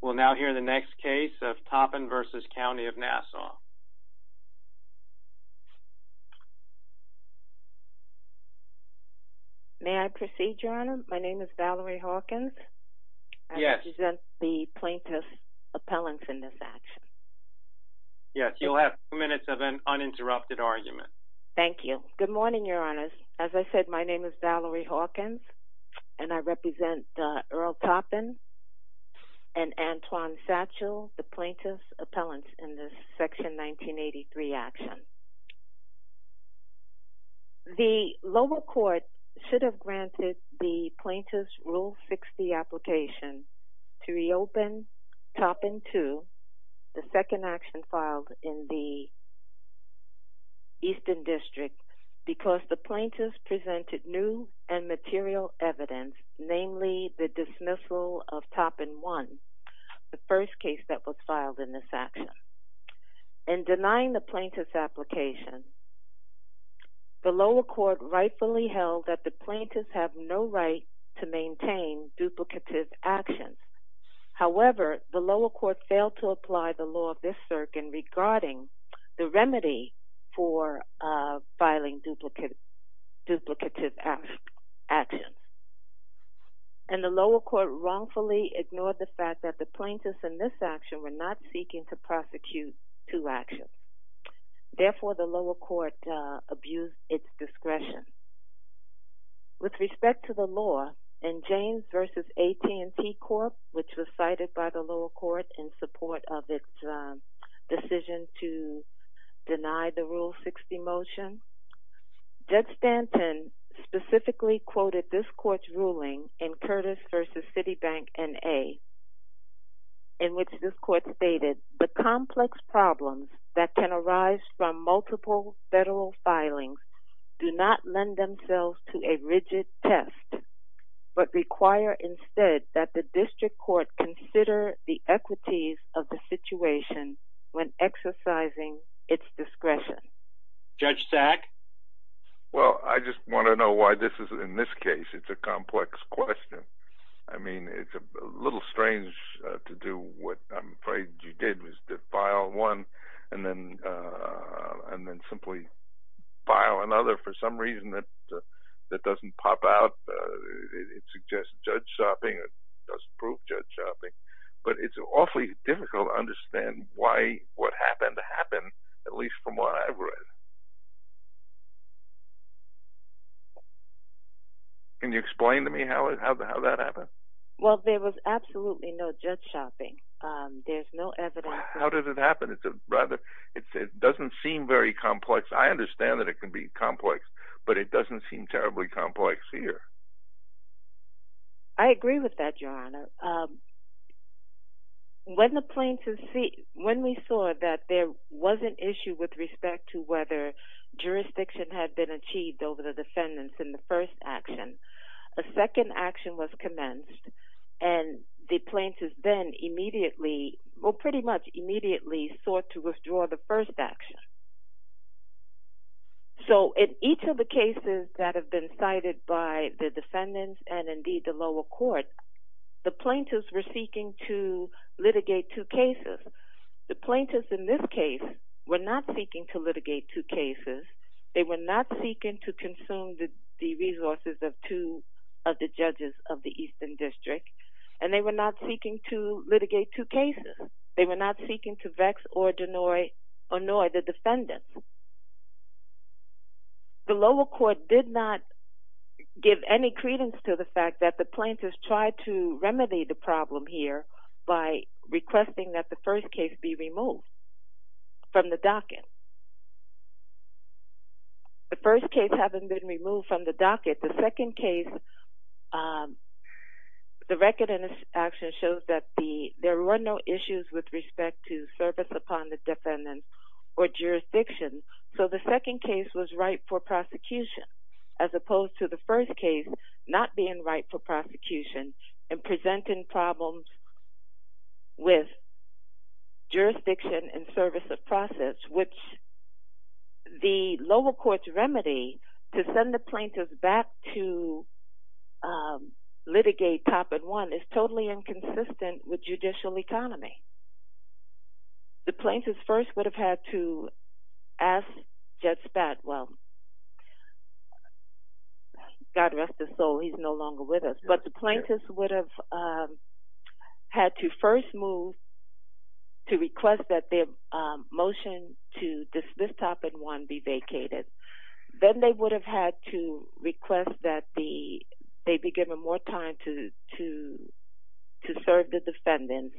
We'll now hear the next case of Toppin v. County of Nassau. May I proceed, Your Honor? My name is Valerie Hawkins. Yes. I represent the plaintiff's appellants in this action. Yes. You'll have two minutes of an uninterrupted argument. Thank you. Good morning, Your Honors. As I said, my name is Valerie Hawkins and I represent Earl Toppin and Antoine Satchel, the plaintiff's appellants in this Section 1983 action. The lower court should have granted the plaintiff's Rule 60 application to reopen Toppin 2, the second action filed in the Eastern District, because the plaintiff presented new and material evidence, namely the dismissal of Toppin 1, the first case that was filed in this action. In denying the plaintiff's application, the lower court rightfully held that the plaintiffs have no right to maintain duplicative actions. However, the lower court failed to apply the law of this circuit regarding the remedy for filing duplicative actions. And the lower court wrongfully ignored the fact that the plaintiffs in this action were not seeking to prosecute two actions. Therefore, the lower court abused its discretion. With respect to the law, in James v. AT&T Corp., which was cited by the lower court in support of its decision to deny the Rule 60 motion, Judge Stanton specifically quoted this court's ruling in Curtis v. Citibank N.A. in which this court stated, the complex problems that can arise from multiple federal filings do not lend themselves to a rigid test, but require instead that the district court consider the equities of the situation when exercising its discretion. Judge Sack? Well, I just want to know why this is, in this case, it's a complex question. I mean, it's a little strange to do what I'm afraid you did, which is to file one and then simply file another for some reason that doesn't pop out. It suggests judge shopping. It doesn't prove judge shopping. But it's awfully difficult to understand why, what happened to happen, at least from what I've read. Can you explain to me how that happened? Well, there was absolutely no judge shopping. There's no evidence. How did it happen? It doesn't seem very complex. I understand that it can be complex, but it doesn't seem terribly complex here. I agree with that, Your Honor. When we saw that there was an issue with respect to whether jurisdiction had been achieved over the defendants in the first action, a second action was commenced and the plaintiffs then immediately, well, pretty much immediately sought to withdraw the first action. So in each of the cases that have been cited by the defendants and indeed the lower court, the plaintiffs were seeking to litigate two cases. The plaintiffs in this case were not seeking to litigate two cases. They were not seeking to consume the resources of two of the and they were not seeking to litigate two cases. They were not seeking to vex or annoy the defendants. The lower court did not give any credence to the fact that the plaintiffs tried to remedy the problem here by requesting that the first case be removed from the docket. The first case having been removed from the docket, the second case the record in this action shows that there were no issues with respect to service upon the defendants or jurisdiction. So the second case was right for prosecution as opposed to the first case not being right for prosecution and presenting problems with jurisdiction and service of process which the lower court's remedy to send the plaintiffs back to litigate top and one is totally inconsistent with judicial economy. The plaintiffs first would have had to ask Jed Spadwell, God rest his soul, he's no longer with us, but the plaintiffs would have had to first move to request that their motion to dismiss top and one be vacated. Then they would have had to request that they be given more time to serve the defendants.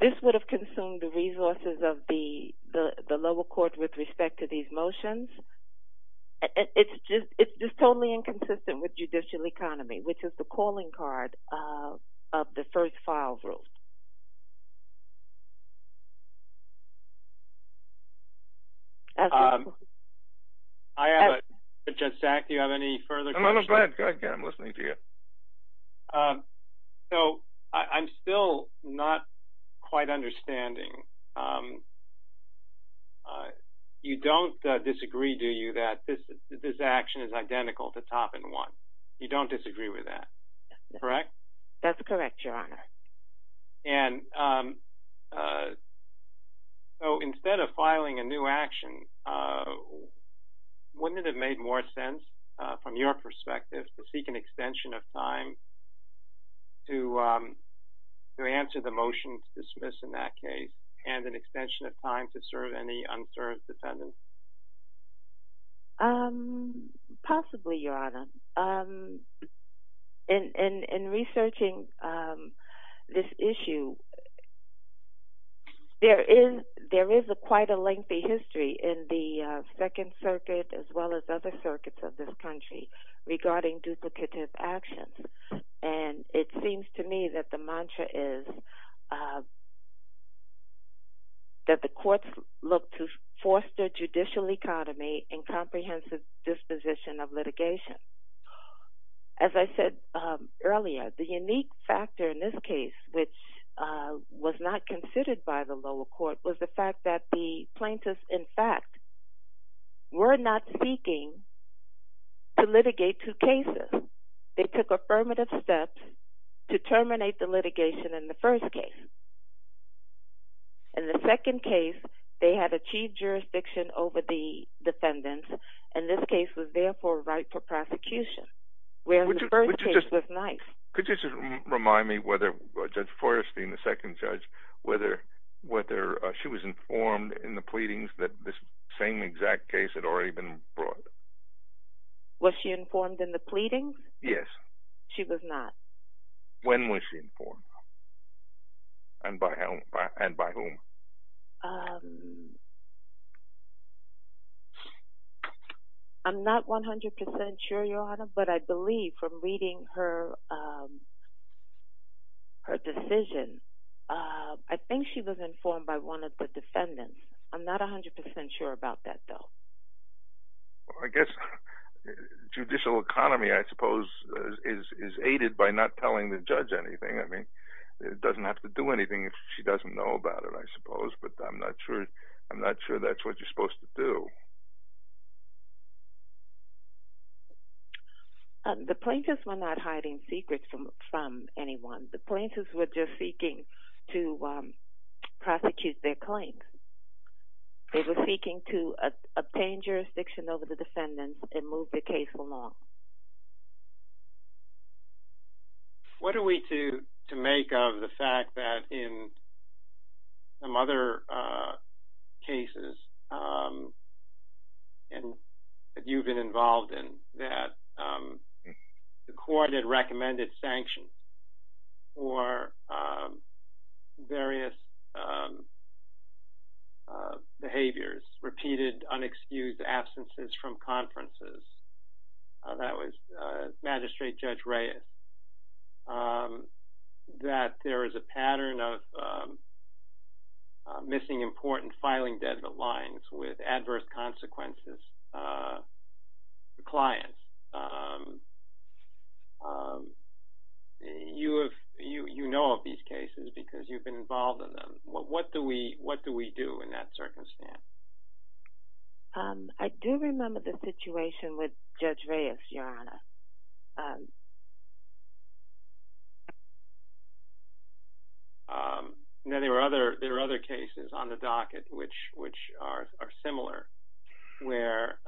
This would have consumed the resources of the lower court with respect to these motions. It's just totally inconsistent with judicial economy which is the calling card of the first file rule. I have a... Jed, do you have any further questions? No, no, go ahead. Go ahead, Ken. I'm listening to you. So I'm still not quite understanding. You don't disagree, do you, that this action is identical to top and one? You don't disagree with that, correct? That's correct, Your Honor. And so instead of filing a new action, wouldn't it have made more sense from your perspective to seek an extension of time to answer the motion to dismiss in that case and an extension of time to serve any unserved defendants? Possibly, Your Honor. In researching this issue, there is a quite a lengthy history in the Second Circuit as well as other circuits of this country regarding duplicative actions. And it seems to me that the mantra is that the courts look to foster judicial economy and comprehensive disposition of litigation. As I said earlier, the unique factor in this case which was not considered by the lower court was the fact that the plaintiffs, in fact, were not seeking to litigate two cases. They took affirmative steps to terminate the litigation in the first case. In the second case, they had achieved jurisdiction over the defendants and this case was therefore right for prosecution, whereas the first case was not. Could you just remind me whether Judge Forrestine, the second judge, whether she was informed in the pleadings that this same exact case had already been brought? Was she informed in the pleadings? Yes. She was not. When was she informed? And by whom? I'm not 100% sure, Your Honor, but I believe from reading her decision, I think she was informed by one of the defendants. I'm not 100% sure about that, though. Well, I guess judicial economy, I suppose, is aided by not telling the judge anything. It doesn't have to do anything if she doesn't know about it, I suppose, but I'm not sure that's what you're supposed to do. The plaintiffs were not hiding secrets from anyone. The plaintiffs were just seeking to prosecute their claims. They were seeking to obtain jurisdiction over the defendants and move the case along. What are we to make of the fact that in some other cases that you've been involved in, that the court had recommended sanctions for various behaviors, repeated unexcused absences from conferences, and that was Magistrate Judge Reyes, that there is a pattern of missing important filing deadlines with adverse consequences to clients? You know of these cases because you've been involved in them. What do we do in that circumstance? I do remember the situation with Judge Reyes, Your Honor. No, there are other cases on the docket which are similar where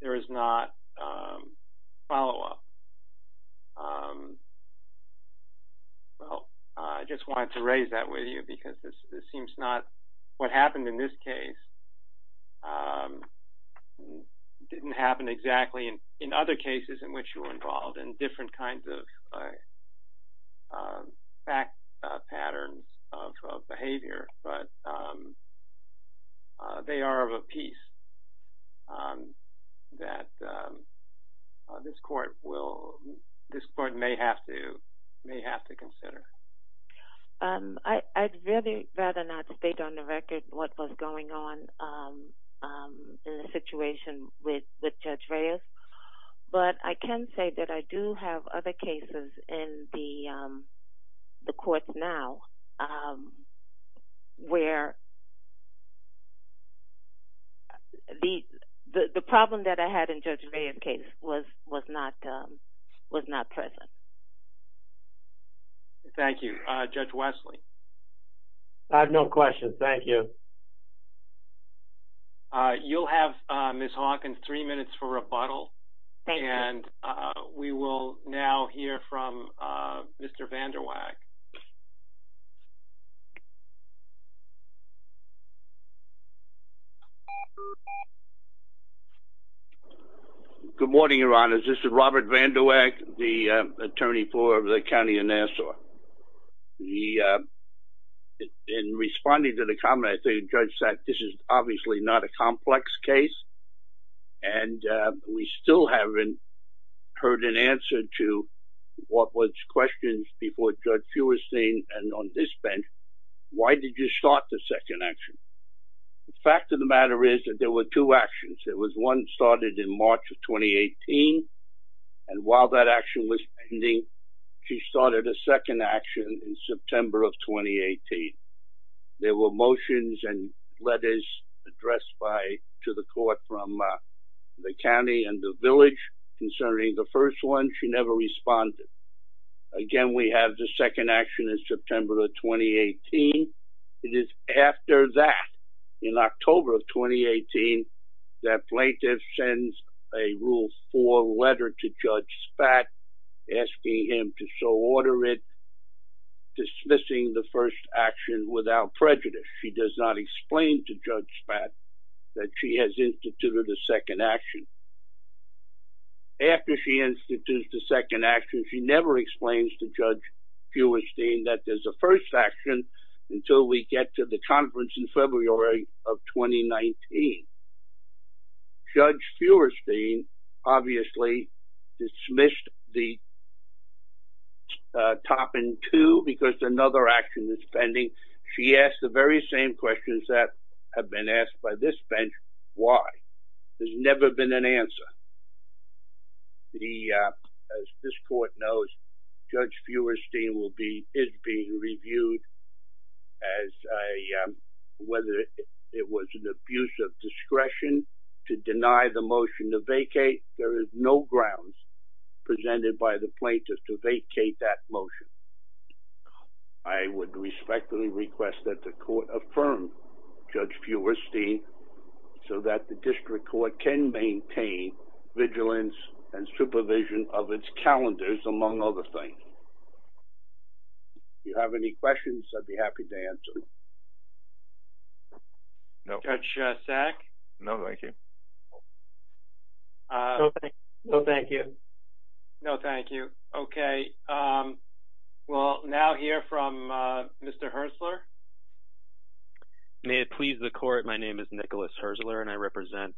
there is not follow-up. Well, I just wanted to raise that with you because it seems not what happened in this case didn't happen exactly in other cases in which you were involved in different kinds of fact patterns of behavior, but they are of a piece that this court may have to consider. I'd really rather not state on the record what was going on in the situation with Judge Reyes, but I can say that I do have other cases in the courts now where the problem that I had in Judge Reyes' case was not present. Thank you. Thank you. Judge Wesley? I have no questions. Thank you. You'll have, Ms. Hawkins, three minutes for rebuttal. Thank you. And we will now hear from Mr. Van Der Waak. Good morning, Your Honors. This is Robert Van Der Waak, the attorney for the County of Nassau. In responding to the comment, I think Judge Sack, this is obviously not a complex case, and we still haven't heard an answer to what was questions before Judge Feuerstein and on this bench, why did you start the second action? The fact of the matter is that there were two actions. There was one started in March of 2018, and while that action was pending, she started a second action in September of 2018. There were motions and letters addressed to the court from the county and the village concerning the first one. She never responded. Again, we have the second action in September of 2018. It is after that, in October of 2018, that plaintiff sends a Rule 4 letter to Judge Sack, asking him to so order it, dismissing the first action without prejudice. She does not explain to Judge Sack that she has instituted a second action. After she institutes the second action, she never explains to Judge Feuerstein that there's a first action until we get to the conference in February of 2019. Judge Feuerstein obviously dismissed the top and two because another action is pending. She asked the very same questions that have been asked by this bench. Why? There's never been an answer. As this court knows, Judge Feuerstein is being reviewed as whether it was an abuse of discretion to deny the motion to vacate. There is no grounds presented by the plaintiff to vacate that motion. I would respectfully request that the court affirm Judge Feuerstein so that the district court can maintain vigilance and supervision of its calendars, among other things. You have any questions? I'd be happy to answer. No, Judge Sack. No, thank you. No, thank you. No, thank you. Okay. Well, now hear from Mr. Herzler. May it please the court. My name is Nicholas Herzler and I represent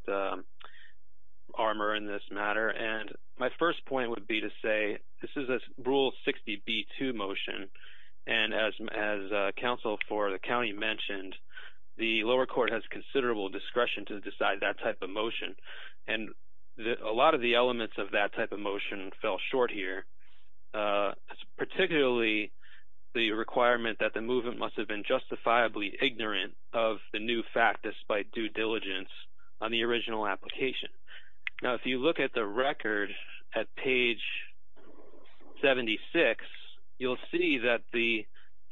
Armour in this matter. My first point would be to say, this is a Rule 60b-2 motion. And as counsel for the county mentioned, the lower court has considerable discretion to decide that type of motion. And a lot of the elements of that type of motion fell short here, particularly the requirement that the movement must have been justifiably ignorant of the new fact despite due diligence on the original application. Now, if you look at the record at page 76, you'll see that the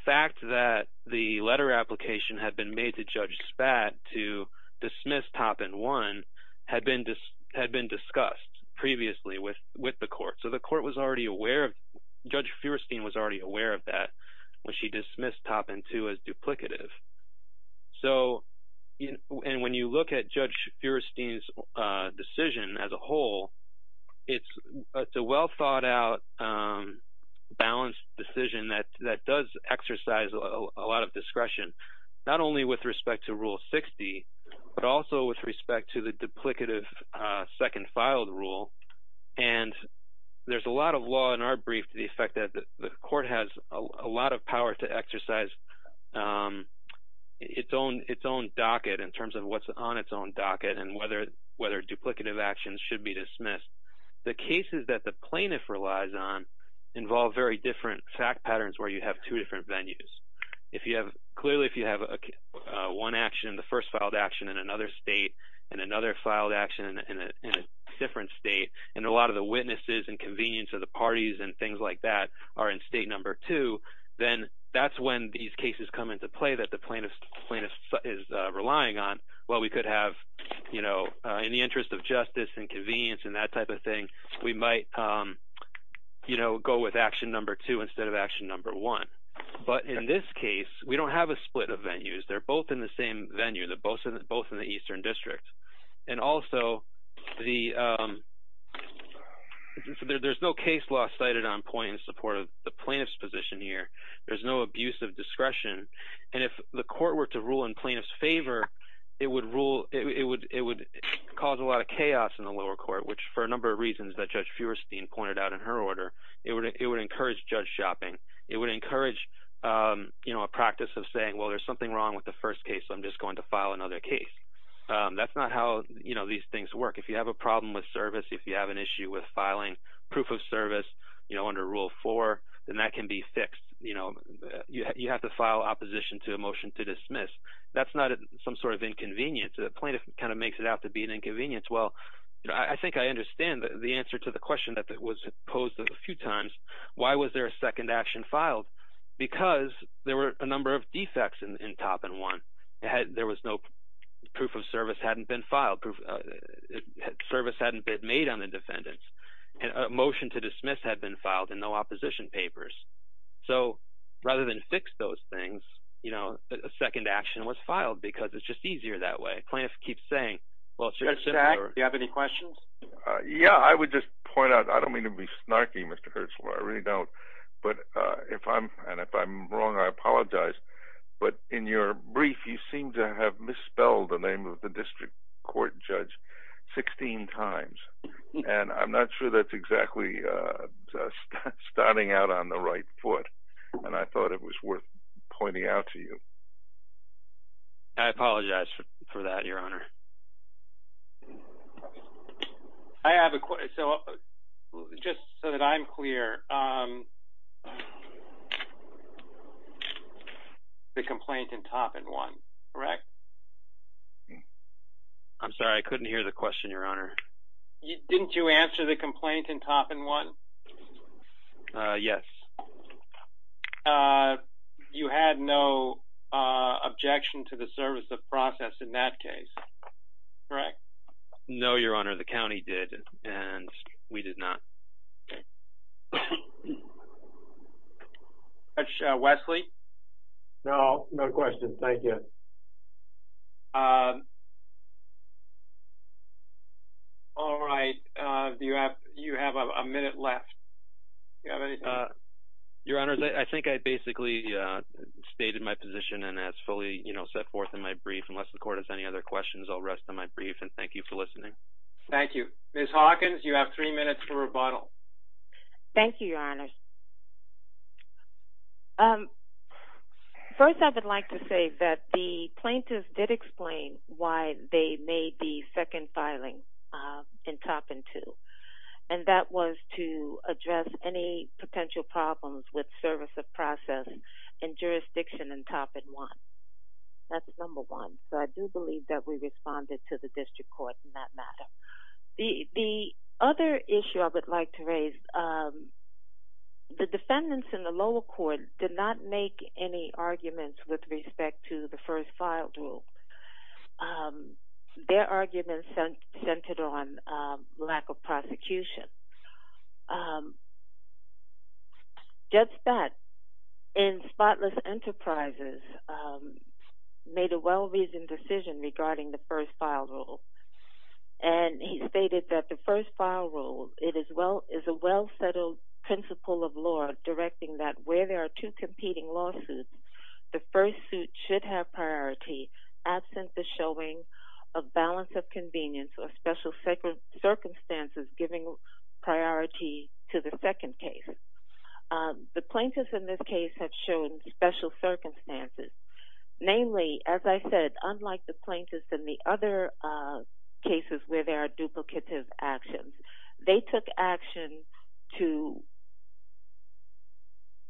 fact that the letter application had been made to Judge Spad to dismiss Toppin 1 had been discussed previously with the court. So the court was already aware of, Judge Feuerstein was already aware of that when she dismissed Toppin 2 as duplicative. And when you look at Judge Feuerstein's decision as a whole, it's a well thought out balanced decision that does exercise a lot of discretion, not only with respect to Rule 60, but also with respect to the duplicative second filed rule. And there's a lot of law in our brief to the effect that the court has a lot of power in terms of what's on its own docket and whether duplicative actions should be dismissed. The cases that the plaintiff relies on involve very different fact patterns where you have two different venues. Clearly, if you have one action, the first filed action in another state and another filed action in a different state, and a lot of the witnesses and convenience of the parties and things like that are in state number two, then that's when these cases come into play that the plaintiff is relying on. Well, we could have, you know, in the interest of justice and convenience and that type of thing, we might, you know, go with action number two instead of action number one. But in this case, we don't have a split of venues. They're both in the same venue, they're both in the Eastern District. And also, there's no case law cited on point in support of the plaintiff's position here. There's no abuse of discretion. And if the court were to rule in plaintiff's favor, it would cause a lot of chaos in the lower court, which for a number of reasons that Judge Feuerstein pointed out in her order, it would encourage judge shopping. It would encourage, you know, a practice of saying, well, there's something wrong with the first case, I'm just going to file another case. That's not how, you know, these things work. If you have a problem with service, if you have an issue with filing proof of service, you know, under rule four, then that can be fixed. You know, you have to file opposition to a motion to dismiss. That's not some sort of inconvenience. The plaintiff kind of makes it out to be an inconvenience. Well, I think I understand the answer to the question that was posed a few times. Why was there a second action filed? Because there were a number of defects in top and one. There was no proof of service hadn't been filed. Service hadn't been made on the defendants. And a motion to dismiss had been filed and no opposition papers. So rather than fix those things, you know, a second action was filed because it's just easier that way. A plaintiff keeps saying, well, it's just... Judge Zack, do you have any questions? Yeah, I would just point out, I don't mean to be snarky, Mr. Hertzler. I really don't. But if I'm, and if I'm wrong, I apologize. But in your brief, you seem to have misspelled the name of the district court judge 16 times. And I'm not sure that's exactly starting out on the right foot. And I thought it was worth pointing out to you. I apologize for that, Your Honor. I have a question. So just so that I'm clear, the complaint in top and one, correct? I'm sorry, I couldn't hear the question, Your Honor. Didn't you answer the complaint in top and one? Yes. Uh, you had no objection to the service of process in that case, correct? No, Your Honor, the county did, and we did not. Wesley? No, no question, thank you. All right, do you have, you have a minute left? Do you have anything? Your Honor, I think I basically stated my position and as fully, you know, set forth in my brief. Unless the court has any other questions, I'll rest on my brief, and thank you for listening. Thank you. Ms. Hawkins, you have three minutes for rebuttal. Thank you, Your Honor. First, I would like to say that the plaintiff did explain why they made the second filing in top and two. And that was to address any potential problems with service of process in jurisdiction in top and one. That's number one. So I do believe that we responded to the district court in that matter. The other issue I would like to raise, the defendants in the lower court did not make any arguments with respect to the first filed rule. Their arguments centered on lack of prosecution. Judge Spatz in Spotless Enterprises made a well-reasoned decision regarding the first filed rule. And he stated that the first filed rule, it is a well-settled principle of law directing that where there are two competing lawsuits, the first suit should have priority absent the showing of balance of convenience or special circumstances giving priority to the second case. The plaintiffs in this case have shown special circumstances. Namely, as I said, unlike the plaintiffs in the other cases where there are duplicative actions, they took action to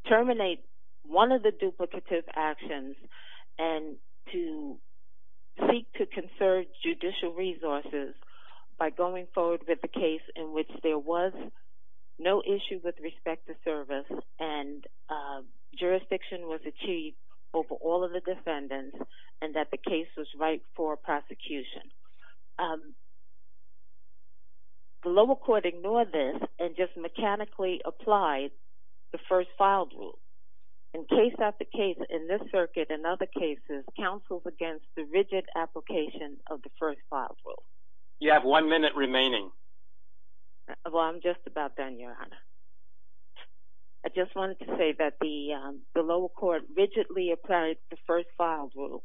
terminate one of the duplicative actions and to seek to conserve judicial resources by going forward with the case in which there was no issue with respect to service and jurisdiction was achieved over all of the defendants and that the case was right for prosecution. The lower court ignored this and just mechanically applied the first filed rule. And case after case in this circuit and other cases counseled against the rigid application of the first filed rule. You have one minute remaining. Well, I'm just about done, Your Honor. I just wanted to say that the lower court rigidly applied the first filed rule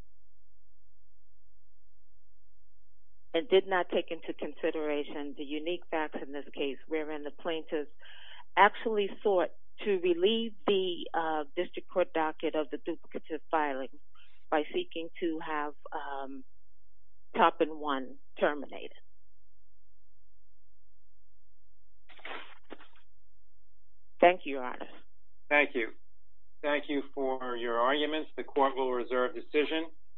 and did not take into consideration the unique facts in this case wherein the plaintiffs actually sought to relieve the district court docket of the duplicative filing by seeking to have top and one terminated. Thank you, Your Honor. Thank you. Thank you for your arguments. The court will reserve decision.